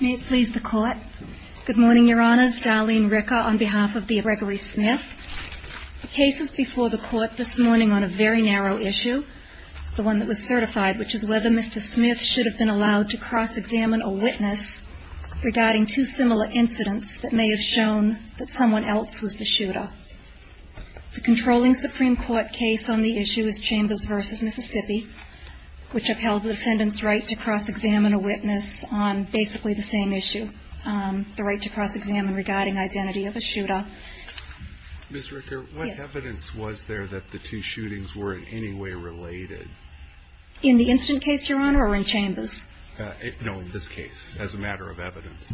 May it please the Court. Good morning, Your Honors. Darlene Ricker on behalf of the Gregory Smith. The case is before the Court this morning on a very narrow issue, the one that was certified, which is whether Mr. Smith should have been allowed to cross-examine a witness regarding two similar incidents that may have shown that someone else was the shooter. The controlling Supreme Court case on the issue is Chambers v. Mississippi, which upheld the defendant's right to cross-examine a witness on basic evidence, which is exactly the same issue, the right to cross-examine regarding identity of a shooter. Ms. Ricker, what evidence was there that the two shootings were in any way related? In the incident case, Your Honor, or in Chambers? No, in this case, as a matter of evidence.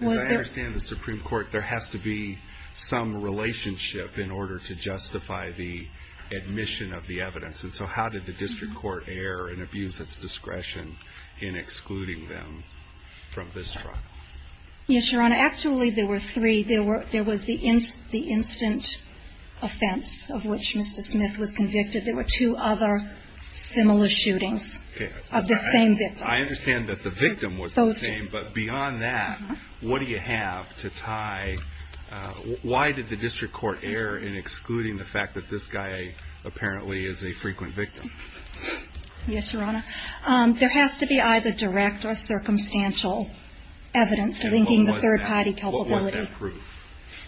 As I understand the Supreme Court, there has to be some relationship in order to justify the admission of the evidence. And so how did the district court err and abuse its discretion in excluding them from this trial? Yes, Your Honor. Actually, there were three. There was the instant offense of which Mr. Smith was convicted. There were two other similar shootings of the same victim. I understand that the victim was the same, but beyond that, what do you have to tie Why did the district court err in excluding the fact that this guy apparently is a frequent victim? Yes, Your Honor. There has to be either direct or circumstantial evidence linking the third-party culpability. And what was that proof?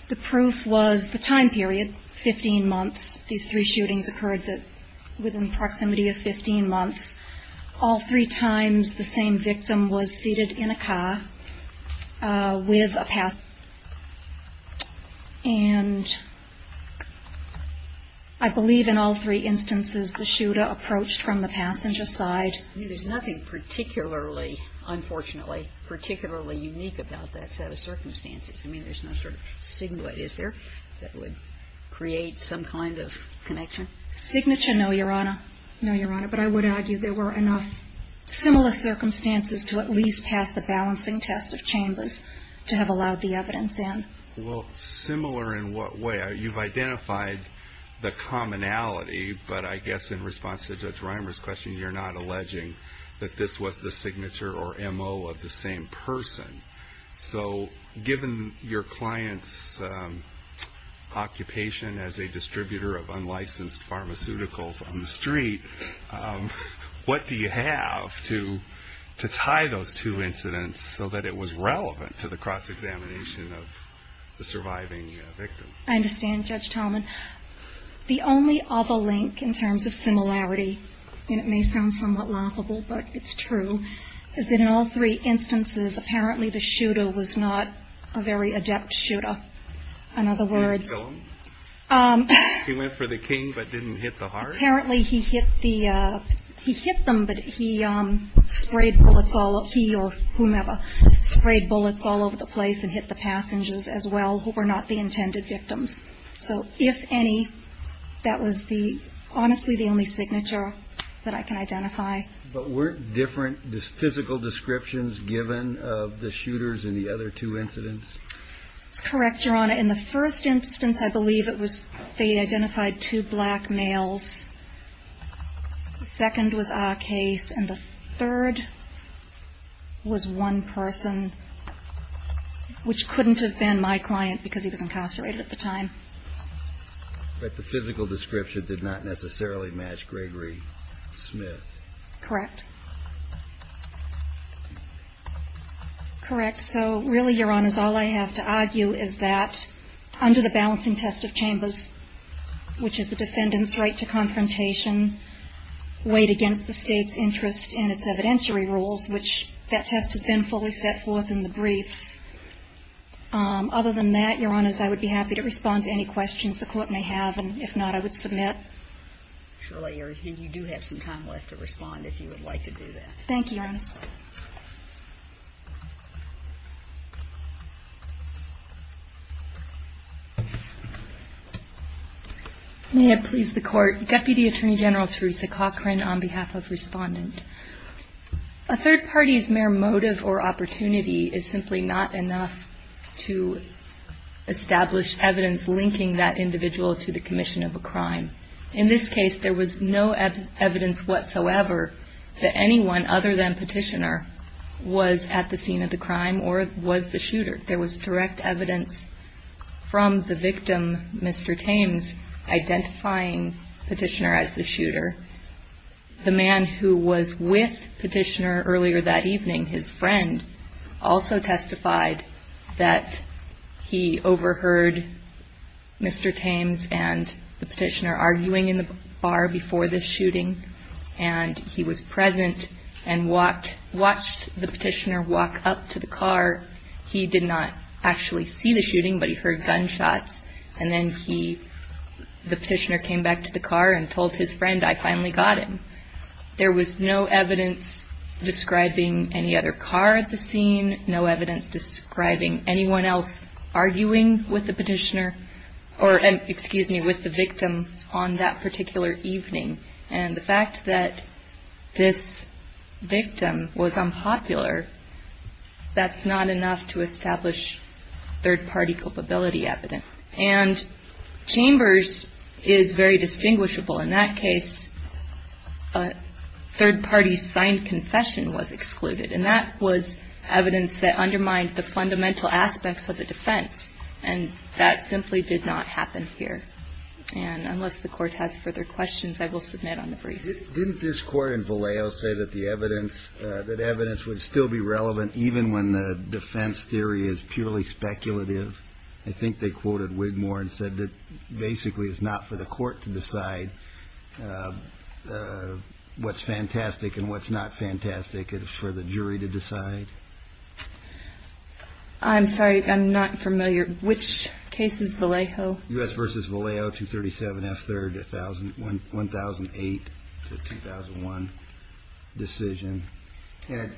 The proof was the time period, 15 months. These three shootings occurred within the proximity of 15 months. All three times, the same victim was seated in a car with a passenger. And I believe in all three instances, the shooter approached from the passenger side. I mean, there's nothing particularly, unfortunately, particularly unique about that set of circumstances. I mean, there's no sort of signet, is there, that would create some kind of connection? Signature? No, Your Honor. No, Your Honor. But I would argue there were enough similar circumstances to at least pass the balancing test of chambers to have allowed the evidence in. Well, similar in what way? You've identified the commonality, but I guess in response to Judge Reimer's question, you're not alleging that this was the signature or M.O. of the same person. So given your client's occupation as a distributor of unlicensed pharmaceuticals on the street, what do you have to tie those two incidents so that it was relevant to the cross-examination of the surviving victim? I understand, Judge Tallman. The only other link in terms of similarity, and it may sound somewhat laughable, but it's true, is that in all three instances, apparently the shooter was not a very adept shooter. In other words, he went for the king but didn't hit the heart? Apparently he hit the, he hit them, but he sprayed bullets all, he or whomever, sprayed bullets all over the place and hit the passengers as well who were not the intended victims. So if any, that was the, honestly, the only signature that I can identify. But weren't different physical descriptions given of the shooters in the other two incidents? That's correct, Your Honor. In the first instance, I believe it was, they identified two black males. The second was a case, and the third was one person, which couldn't have been my client because he was incarcerated at the time. But the physical description did not necessarily match Gregory Smith? Correct. Correct. So really, Your Honors, all I have to argue is that under the balancing test of chambers, which is the defendant's right to confrontation weighed against the State's interest in its evidentiary rules, which that test has been fully set forth in the briefs. Other than that, Your Honors, I would be happy to respond to any questions the Court may have. And if not, I would submit. Surely you do have some time left to respond if you would like to do that. Thank you, Your Honors. May it please the Court. Deputy Attorney General Theresa Cochran on behalf of Respondent. A third party's mere motive or opportunity is simply not enough to establish evidence linking that individual to the commission of a crime. In this case, there was no evidence whatsoever that anyone other than Petitioner was at the scene of the crime or was the shooter. There was direct evidence from the victim, Mr. Thames, identifying Petitioner as the shooter. The man who was with Petitioner earlier that evening, his friend, also testified that he overheard Mr. Thames and the Petitioner arguing in the bar before the shooting. And he was present and watched the Petitioner walk up to the car. He did not actually see the shooting, but he heard gunshots. And then he, the Petitioner came back to the car and told his friend, I finally got him. There was no evidence describing any other car at the scene, no evidence describing anyone else arguing with the Petitioner or, excuse me, with the victim on that particular evening. And the fact that this victim was unpopular, that's not enough to establish third party culpability evidence. And Chambers is very distinguishable. In that case, a third party's signed confession was excluded. And that was evidence that undermined the fundamental aspects of the defense. And that simply did not happen here. And unless the court has further questions, I will submit on the brief. Didn't this court in Vallejo say that the evidence, that evidence would still be relevant even when the defense theory is purely speculative? I think they quoted Wigmore and said that basically it's not for the court to decide what's fantastic and what's not fantastic. It's for the jury to decide. I'm sorry, I'm not familiar. Which case is Vallejo? U.S. v. Vallejo, 237 F. 3rd, 1008 to 2001 decision. And it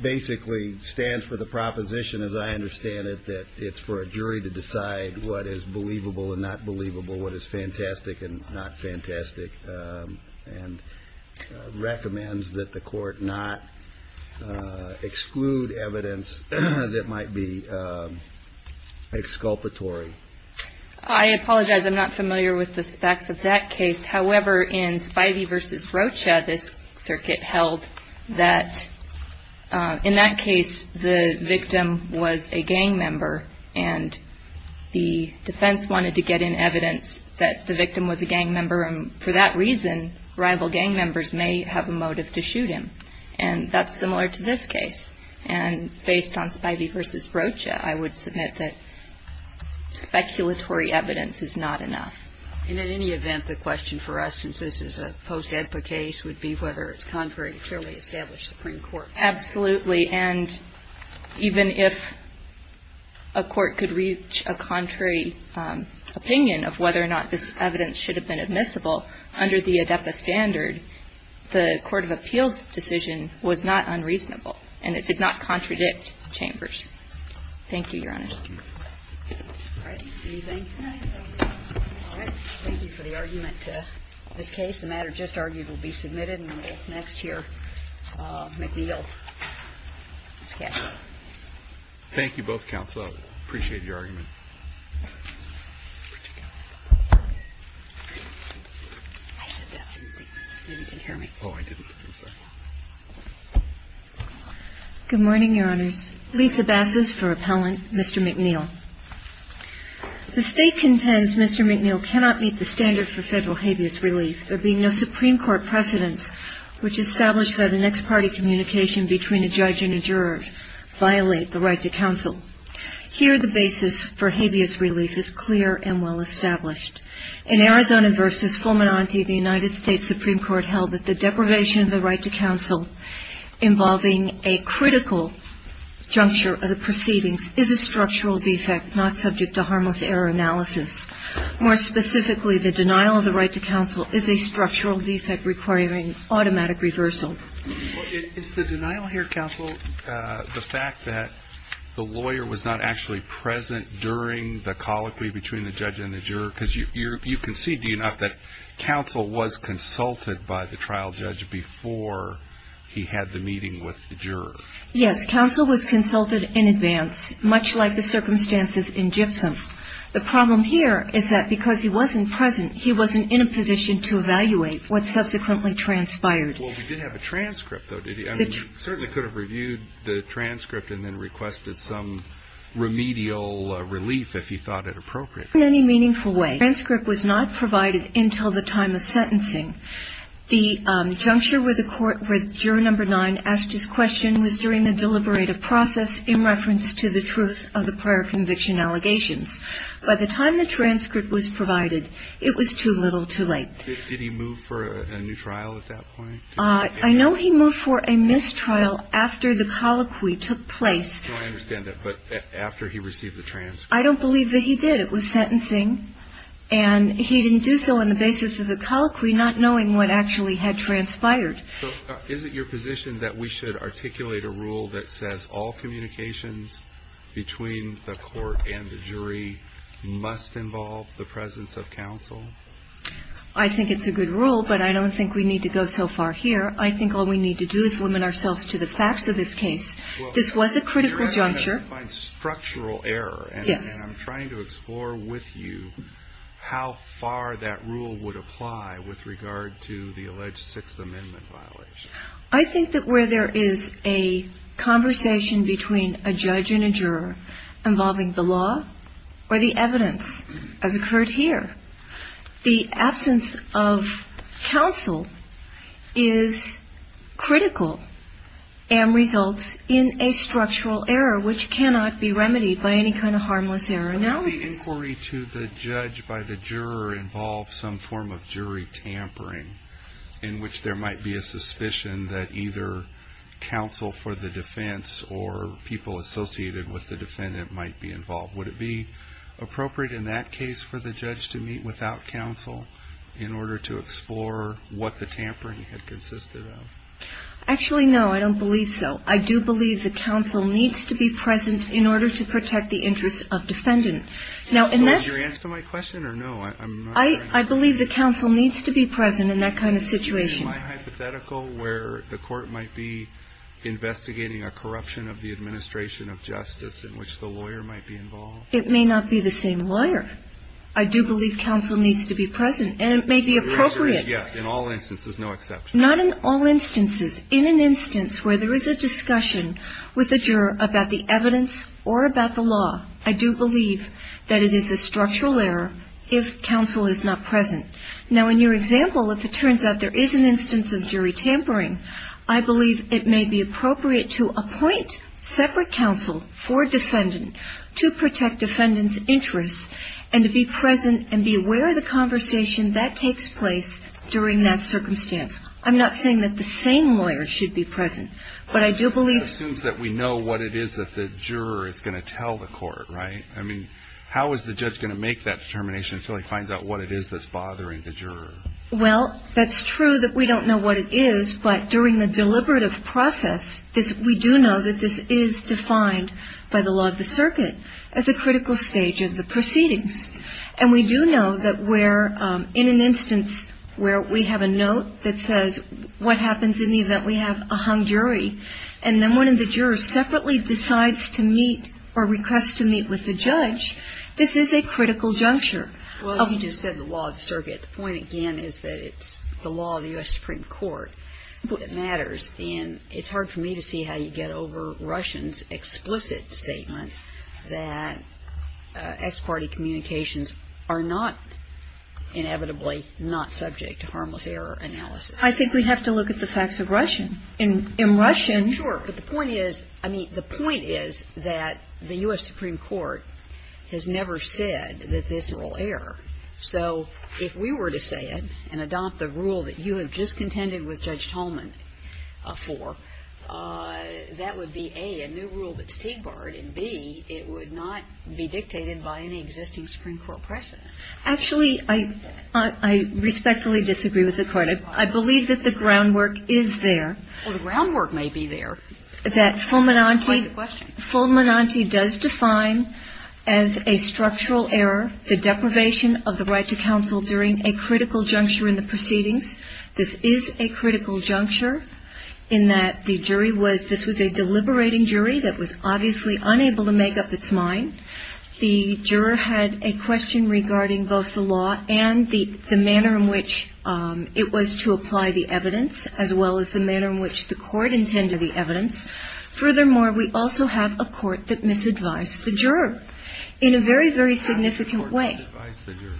basically stands for the proposition, as I understand it, that it's for a jury to decide what is believable and not believable, what is fantastic and not fantastic, and recommends that the court not exclude evidence that might be exculpatory. I apologize. I'm not familiar with the facts of that case. However, in Spivey v. Rocha, this circuit held that in that case the victim was a gang member, and the defense wanted to get in evidence that the victim was a gang member. And for that reason, rival gang members may have a motive to shoot him. And that's similar to this case. And based on Spivey v. Rocha, I would submit that speculatory evidence is not enough. And in any event, the question for us, since this is a post-EDPA case, would be whether it's contrary to clearly established Supreme Court. Absolutely. And even if a court could reach a contrary opinion of whether or not this evidence should have been admissible under the ADEPA standard, the court of appeals decision was not unreasonable, and it did not contradict Chambers. Thank you, Your Honor. All right. Anything? All right. Thank you for the argument to this case. The matter just argued will be submitted and will next hear McNeil. Ms. Cash. Thank you both, Counsel. I appreciate your argument. Good morning, Your Honors. Lisa Bassas for Appellant. Mr. McNeil. The State contends Mr. McNeil cannot meet the standard for Federal habeas relief. There being no Supreme Court precedence which established that an ex parte communication between a judge and a juror violate the right to counsel. Here the basis for habeas relief is clear and well established. In Arizona v. Fulminante, the United States Supreme Court held that the deprivation of the right to counsel involving a critical juncture of the proceedings is a structural defect, not subject to harmless error analysis. More specifically, the denial of the right to counsel is a structural defect requiring automatic reversal. Is the denial here, Counsel, the fact that the lawyer was not actually present during the colloquy between the judge and the juror? Because you concede, do you not, that counsel was consulted by the trial judge before he had the meeting with the juror? Yes. Counsel was consulted in advance, much like the circumstances in Gypsum. The problem here is that because he wasn't present, he wasn't in a position to evaluate what subsequently transpired. Well, we did have a transcript, though, did we? I mean, you certainly could have reviewed the transcript and then requested some remedial relief if you thought it appropriate. In any meaningful way, the transcript was not provided until the time of sentencing. The juncture where the court, where juror number nine asked his question was during the deliberative process in reference to the truth of the prior conviction allegations. By the time the transcript was provided, it was too little too late. Did he move for a new trial at that point? I know he moved for a mistrial after the colloquy took place. No, I understand that. But after he received the transcript? I don't believe that he did. It was sentencing. And he didn't do so on the basis of the colloquy, not knowing what actually had transpired. So is it your position that we should articulate a rule that says all communications between the court and the jury must involve the presence of counsel? I think it's a good rule, but I don't think we need to go so far here. I think all we need to do is limit ourselves to the facts of this case. This was a critical juncture. You're asking us to find structural error. Yes. I'm trying to explore with you how far that rule would apply with regard to the alleged Sixth Amendment violation. I think that where there is a conversation between a judge and a juror involving the law or the evidence, as occurred here, the absence of counsel is critical and results in a structural error, which cannot be remedied by any kind of harmless error analysis. Would the inquiry to the judge by the juror involve some form of jury tampering, in which there might be a suspicion that either counsel for the defense or people associated with the defendant might be involved? Would it be appropriate in that case for the judge to meet without counsel in order to explore what the tampering had consisted of? Actually, no. I don't believe so. I do believe that counsel needs to be present in order to protect the interest of defendant. Was your answer to my question, or no? I believe that counsel needs to be present in that kind of situation. Is my hypothetical where the court might be investigating a corruption of the administration of justice in which the lawyer might be involved? It may not be the same lawyer. I do believe counsel needs to be present, and it may be appropriate. Your answer is yes, in all instances, no exception. Not in all instances. In an instance where there is a discussion with the juror about the evidence or about the law, I do believe that it is a structural error if counsel is not present. Now, in your example, if it turns out there is an instance of jury tampering, I believe it may be appropriate to appoint separate counsel for defendant to protect defendant's interests and to be present and be aware of the conversation that takes place during that circumstance. I'm not saying that the same lawyer should be present. But I do believe that we know what it is that the juror is going to tell the court, right? I mean, how is the judge going to make that determination until he finds out what it is that's bothering the juror? Well, that's true that we don't know what it is, but during the deliberative process, we do know that this is defined by the law of the circuit as a critical stage of the proceedings. And we do know that where in an instance where we have a note that says, what happens in the event we have a hung jury, and then one of the jurors separately decides to meet or requests to meet with the judge, this is a critical juncture. Well, you just said the law of the circuit. The point, again, is that it's the law of the U.S. Supreme Court. It matters. And it's hard for me to see how you get over Russian's explicit statement that ex parte communications are not inevitably not subject to harmless error analysis. I think we have to look at the facts of Russian. In Russian. Sure. But the point is, I mean, the point is that the U.S. Supreme Court has never said that this will err. So if we were to say it and adopt the rule that you have just contended with Judge Tolman for, that would be, A, a new rule that's TIG barred, and, B, it would not be dictated by any existing Supreme Court precedent. Actually, I respectfully disagree with the Court. I believe that the groundwork is there. Well, the groundwork may be there. That Fulminante does define as a structural error the deprivation of the right to counsel during a critical juncture in the proceedings. This is a critical juncture in that the jury was, this was a deliberating jury that was obviously unable to make up its mind. The juror had a question regarding both the law and the manner in which it was to apply the evidence, as well as the manner in which the Court intended the evidence. Furthermore, we also have a Court that misadvised the juror in a very, very significant way. How did the Court misadvise the juror?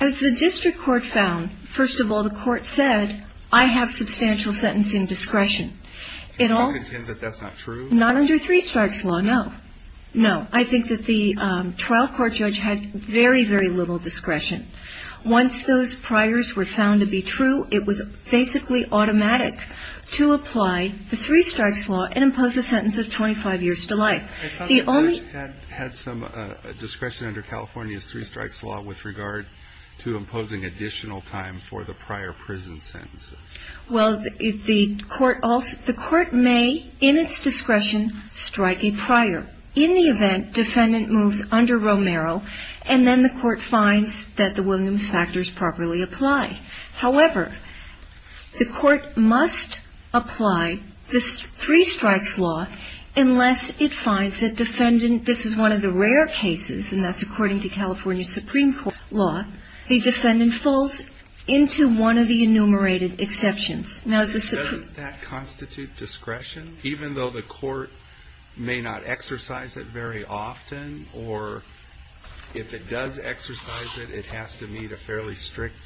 As the district court found, first of all, the Court said, I have substantial sentencing discretion. Can you contend that that's not true? Not under three-strikes law, no. No. I think that the trial court judge had very, very little discretion. Once those priors were found to be true, it was basically automatic to apply the three-strikes law and impose a sentence of 25 years to life. Had some discretion under California's three-strikes law with regard to imposing additional time for the prior prison sentences? Well, the Court may, in its discretion, strike a prior. In the event, defendant moves under Romero, and then the Court finds that the Williams factors properly apply. However, the Court must apply the three-strikes law unless it finds that defendant — this is one of the rare cases, and that's according to California Supreme Court law — the defendant falls into one of the enumerated exceptions. Now, the Supreme Court — Doesn't that constitute discretion, even though the Court may not exercise it very often? Or if it does exercise it, it has to meet a fairly strict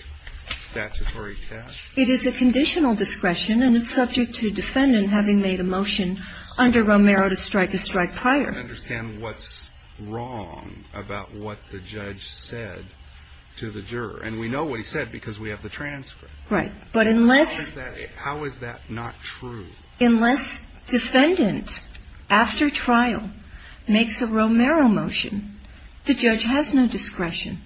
statutory test? It is a conditional discretion, and it's subject to defendant having made a motion under Romero to strike a strike prior. I don't understand what's wrong about what the judge said to the juror. And we know what he said because we have the transcript. Right. But unless — How is that not true? Unless defendant, after trial, makes a Romero motion, the judge has no discretion.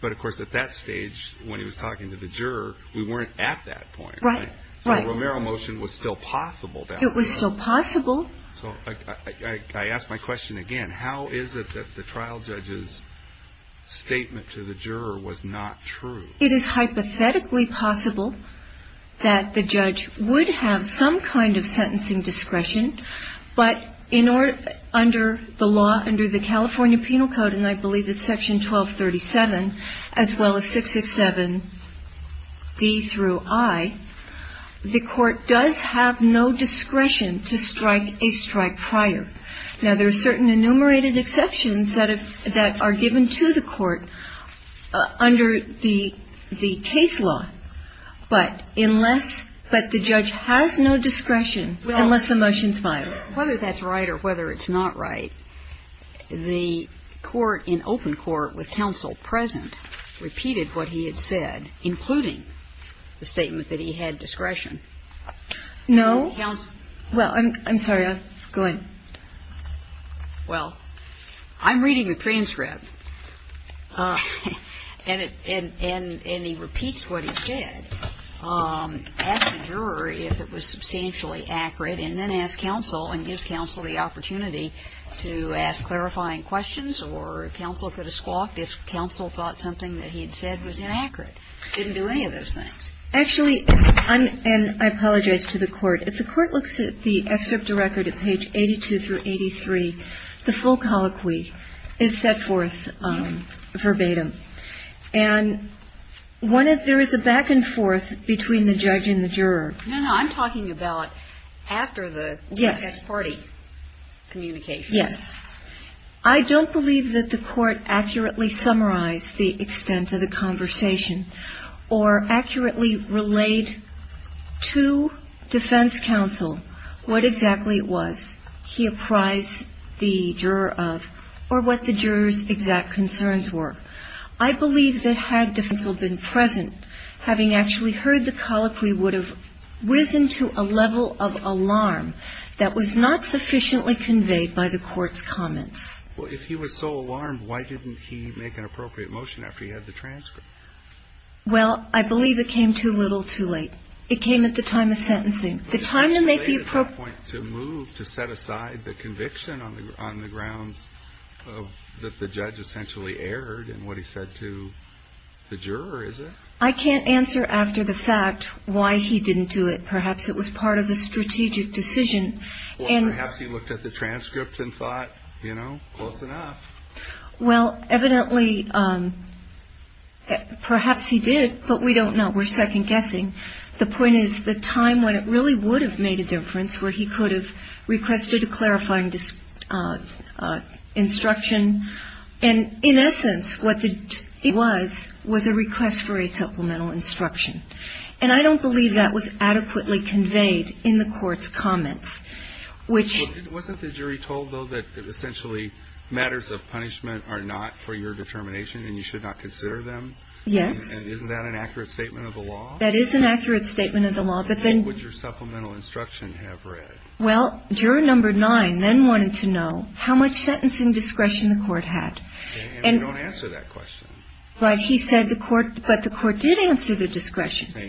But, of course, at that stage, when he was talking to the juror, we weren't at that point. Right. Right. So a Romero motion was still possible back then. It was still possible. So I ask my question again. How is it that the trial judge's statement to the juror was not true? It is hypothetically possible that the judge would have some kind of sentencing discretion. But in order — under the law, under the California Penal Code, and I believe it's Section 1237, as well as 667d through i, the Court does have no discretion to strike a strike prior. Now, there are certain enumerated exceptions that are given to the Court under the case law. But unless — but the judge has no discretion unless the motion is filed. Whether that's right or whether it's not right, the Court in open court with counsel present repeated what he had said, including the statement that he had discretion. No. Well, I'm sorry. Go ahead. Well, I'm reading the transcript. And it — and he repeats what he said. Asked the juror if it was substantially accurate, and then asked counsel and gives counsel the opportunity to ask clarifying questions, or counsel could have squawked if counsel thought something that he had said was inaccurate. Didn't do any of those things. Actually, I'm — and I apologize to the Court. If the Court looks at the excerpt to record at page 82 through 83, the full colloquy is set forth verbatim. And one of — there is a back and forth between the judge and the juror. No, no. I'm talking about after the guest party communication. Yes. I don't believe that the Court accurately summarized the extent of the conversation or accurately relayed to defense counsel what exactly it was he apprised the juror of or what the juror's exact concerns were. I believe that had defense counsel been present, having actually heard the colloquy, would have risen to a level of alarm that was not sufficiently conveyed by the Court's comments. Well, if he was so alarmed, why didn't he make an appropriate motion after he had the transcript? Well, I believe it came too little too late. It came at the time of sentencing. The time to make the — But it's too late at that point to move, to set aside the conviction on the grounds that the judge essentially erred in what he said to the juror, is it? I can't answer after the fact why he didn't do it. Perhaps it was part of the strategic decision. Or perhaps he looked at the transcript and thought, you know, close enough. Well, evidently, perhaps he did, but we don't know. We're second-guessing. The point is the time when it really would have made a difference, where he could have requested a clarifying instruction. And in essence, what it was, was a request for a supplemental instruction. And I don't believe that was adequately conveyed in the Court's comments, which — When you say that you think that punishments are not for your determination and you should not consider them — Yes. And isn't that an accurate statement of the law? That is an accurate statement of the law. But then — What would your supplemental instruction have read? Well, Juror Number 9 then wanted to know how much sentencing discretion the Court had. And we don't answer that question. Right. He said the Court — but the Court did answer the discretion. He said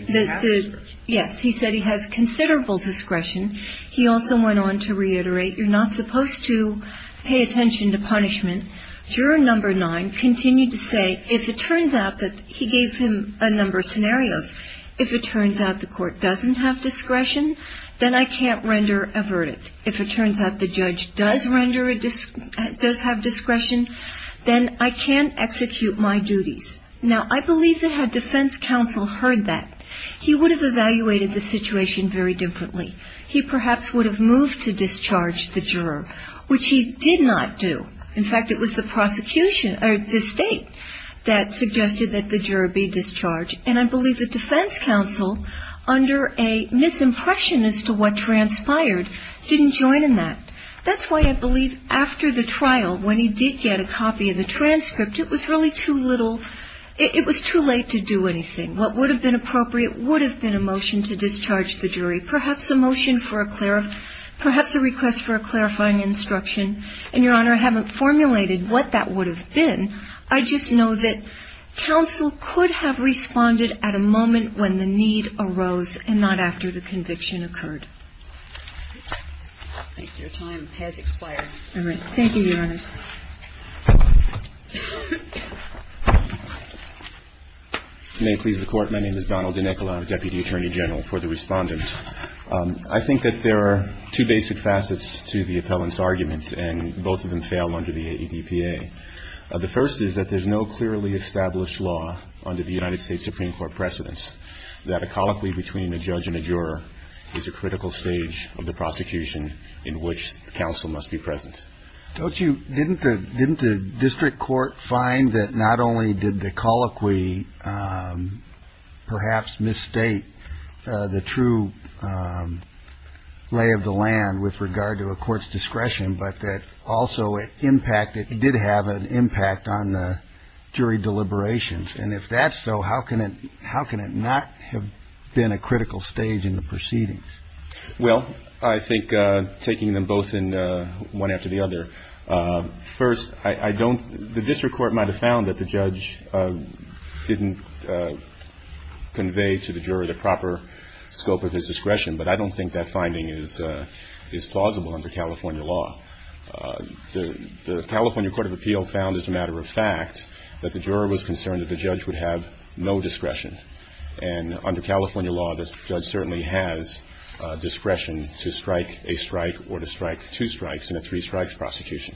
he has discretion. He also went on to reiterate, you're not supposed to pay attention to punishment. Juror Number 9 continued to say, if it turns out that — he gave him a number of scenarios. If it turns out the Court doesn't have discretion, then I can't render a verdict. If it turns out the judge does have discretion, then I can't execute my duties. Now, I believe that had defense counsel heard that, he would have evaluated the situation very differently. He perhaps would have moved to discharge the juror, which he did not do. In fact, it was the prosecution — or the State that suggested that the juror be discharged. And I believe the defense counsel, under a misimpression as to what transpired, didn't join in that. That's why I believe after the trial, when he did get a copy of the transcript, it was really too little — it was too late to do anything. What would have been appropriate would have been a motion to discharge the jury, perhaps a motion for a — perhaps a request for a clarifying instruction. And, Your Honor, I haven't formulated what that would have been. I just know that counsel could have responded at a moment when the need arose and not after the conviction occurred. Thank you. Your time has expired. All right. Thank you, Your Honors. May it please the Court. My name is Donald DeNicola. I'm the Deputy Attorney General for the Respondent. I think that there are two basic facets to the appellant's argument, and both of them fail under the ADPA. The first is that there's no clearly established law under the United States Supreme Court precedence that a colloquy between a judge and a juror is a critical stage of the prosecution in which counsel must be present. Don't you — didn't the — didn't the district court find that not only did the colloquy perhaps misstate the true lay of the land with regard to a court's discretion, but that also it impacted — it did have an impact on the jury deliberations? And if that's so, how can it — how can it not have been a critical stage in the proceedings? Well, I think taking them both in one after the other, first, I don't — the district court might have found that the judge didn't convey to the juror the proper scope of his discretion, but I don't think that finding is plausible under California law. The California Court of Appeal found, as a matter of fact, that the juror was concerned that the judge would have no discretion. And under California law, the judge certainly has discretion to strike a strike or to strike two strikess in a three-strikes prosecution.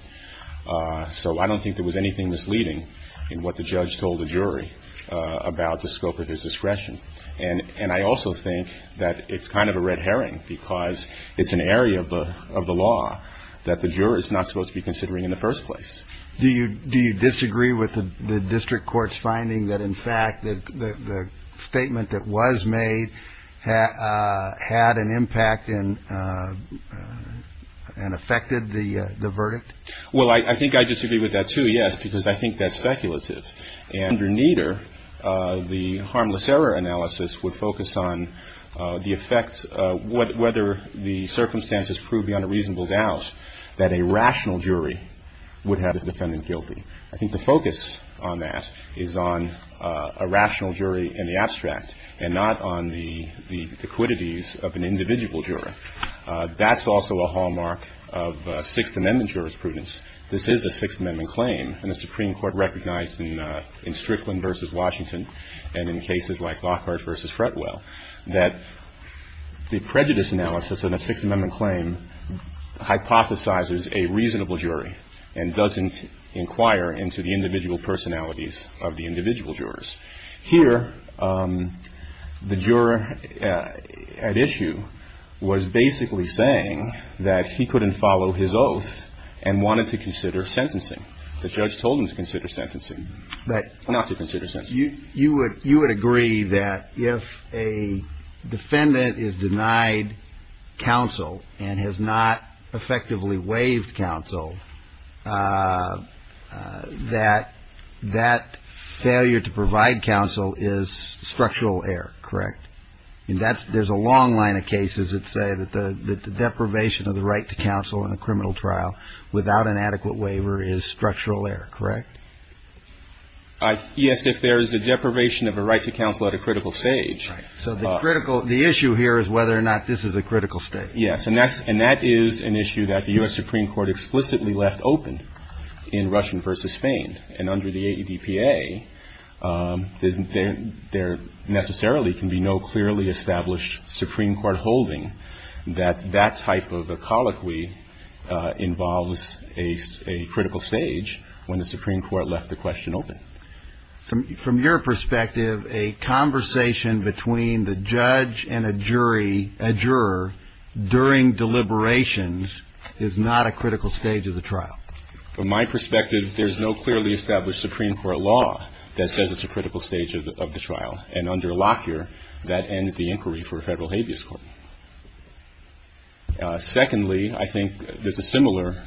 So I don't think there was anything misleading in what the judge told the jury about the scope of his discretion. And I also think that it's kind of a red herring because it's an area of the law that the juror is not supposed to be considering in the first place. Do you disagree with the district court's finding that, in fact, the statement that was made had an impact and affected the verdict? Well, I think I disagree with that, too, yes, because I think that's speculative. And under neither, the harmless error analysis would focus on the effect — whether the circumstances prove beyond a reasonable doubt that a rational jury would have its defendant guilty. I think the focus on that is on a rational jury in the abstract and not on the quiddities of an individual juror. That's also a hallmark of Sixth Amendment jurisprudence. This is a Sixth Amendment claim, and the Supreme Court recognized in Strickland v. Washington and in cases like Lockhart v. Fretwell that the prejudice analysis in a Sixth Amendment claim hypothesizes a reasonable jury and doesn't inquire into the individual personalities of the individual jurors. Here, the juror at issue was basically saying that he couldn't follow his oath and wanted to consider sentencing. The judge told him to consider sentencing. But you would agree that if a defendant is denied counsel and has not effectively waived counsel, that that failure to provide counsel is structural error, correct? There's a long line of cases that say that the deprivation of the right to counsel in a criminal trial without an adequate waiver is structural error, correct? Yes, if there is a deprivation of a right to counsel at a critical stage. So the issue here is whether or not this is a critical stage. Yes, and that is an issue that the U.S. Supreme Court explicitly left open in Russian v. Spain. And under the AEDPA, there necessarily can be no clearly established Supreme Court holding that that type of a colloquy involves a critical stage when the Supreme Court left the question open. From your perspective, a conversation between the judge and a jury, a juror, during deliberations, is not a critical stage of the trial? From my perspective, there's no clearly established Supreme Court law that says it's a critical stage of the trial. And under Lockyer, that ends the inquiry for a federal habeas court. Secondly, I think there's a similar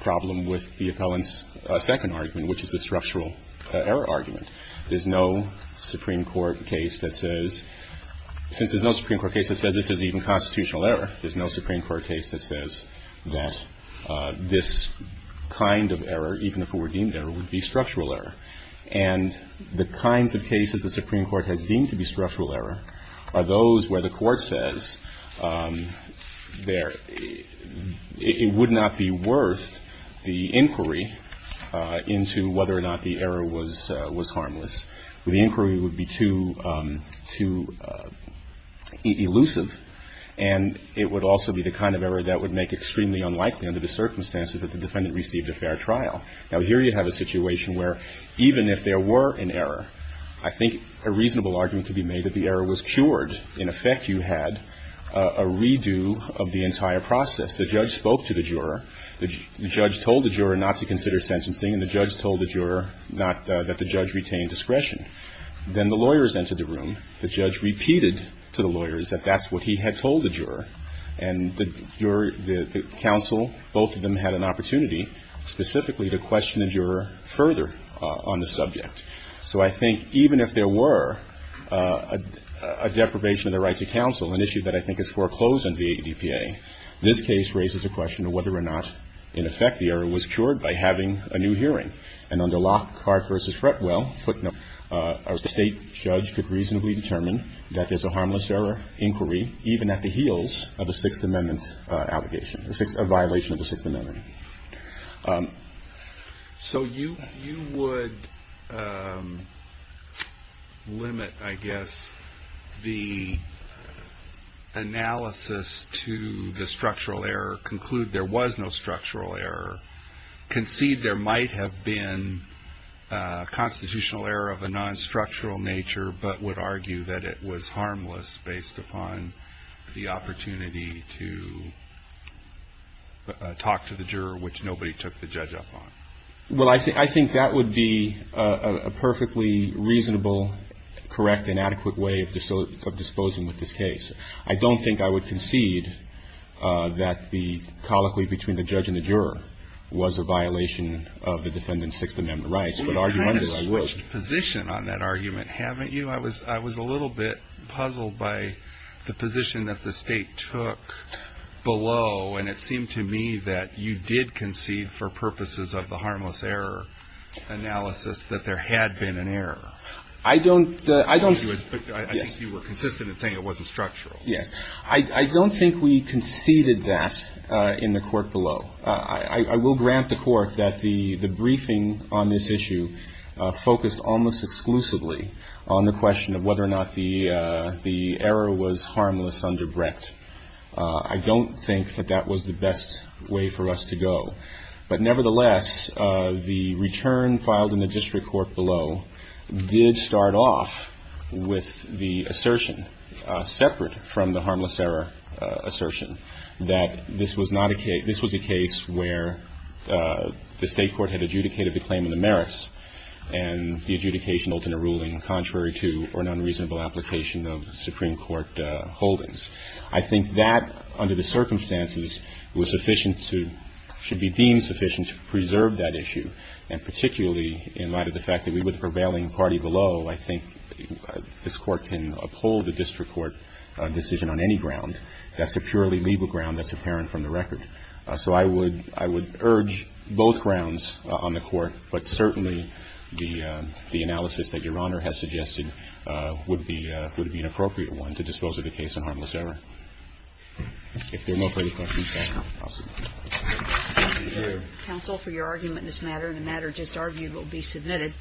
problem with the appellant's second argument, which is the structural error argument. There's no Supreme Court case that says, since there's no Supreme Court case that says this is even constitutional error, there's no Supreme Court case that says that this kind of error, even if it were deemed error, would be structural error. And the kinds of cases the Supreme Court has deemed to be structural error are those where the Court says there — it would not be worth the inquiry into whether or not the error was harmless. The inquiry would be too — too elusive. And it would also be the kind of error that would make extremely unlikely, under the circumstances that the defendant received a fair trial. Now, here you have a situation where, even if there were an error, I think a reasonable argument could be made that the error was cured. In effect, you had a redo of the entire process. The judge spoke to the juror. The judge told the juror not to consider sentencing, and the judge told the juror not — that the judge retain discretion. Then the lawyers entered the room. The judge repeated to the lawyers that that's what he had told the juror. And the jury — the counsel, both of them had an opportunity specifically to question the juror further on the subject. So I think even if there were a deprivation of the rights of counsel, an issue that I think is foreclosed under the ADPA, this case raises a question of whether or not, in effect, the error was cured by having a new hearing. And under Lockhart v. Fretwell, footnote, a State judge could reasonably determine that there's a harmless error inquiry even at the heels of a Sixth Amendment allegation, a violation of the Sixth Amendment. So you would limit, I guess, the analysis to the structural error, conclude there was no structural error, concede there might have been constitutional error of a non-structural nature, but would argue that it was harmless based upon the opportunity to talk to the juror, which nobody took the judge up on? Well, I think that would be a perfectly reasonable, correct and adequate way of disposing of this case. I don't think I would concede that the colloquy between the judge and the juror was a violation of the defendant's Sixth Amendment rights. But argumentally, I would. You've kind of switched position on that argument, haven't you? I was a little bit puzzled by the position that the State took below. And it seemed to me that you did concede for purposes of the harmless error analysis that there had been an error. I don't do it. But I think you were consistent in saying it wasn't structural. Yes. I don't think we conceded that in the court below. I will grant the court that the briefing on this issue focused almost exclusively on the question of whether or not the error was harmless under Brecht. I don't think that that was the best way for us to go. But nevertheless, the return filed in the district court below did start off with the assertion separate from the harmless error assertion that this was not a case – this was a case where the State court had adjudicated the claim of the merits and the adjudication ultimate ruling contrary to or an unreasonable application of Supreme Court holdings. I think that, under the circumstances, was sufficient to – should be deemed sufficient to preserve that issue. And particularly in light of the fact that we were the prevailing party below, I think this Court can uphold the district court decision on any ground that's a purely legal ground that's apparent from the record. So I would – I would urge both grounds on the court. But certainly, the analysis that Your Honor has suggested would be an appropriate one to dispose of the case on harmless error. If there are no further questions, Your Honor, I'll stop. Thank you, Your Honor. Counsel, for your argument in this matter, and a matter just argued, will be submitted.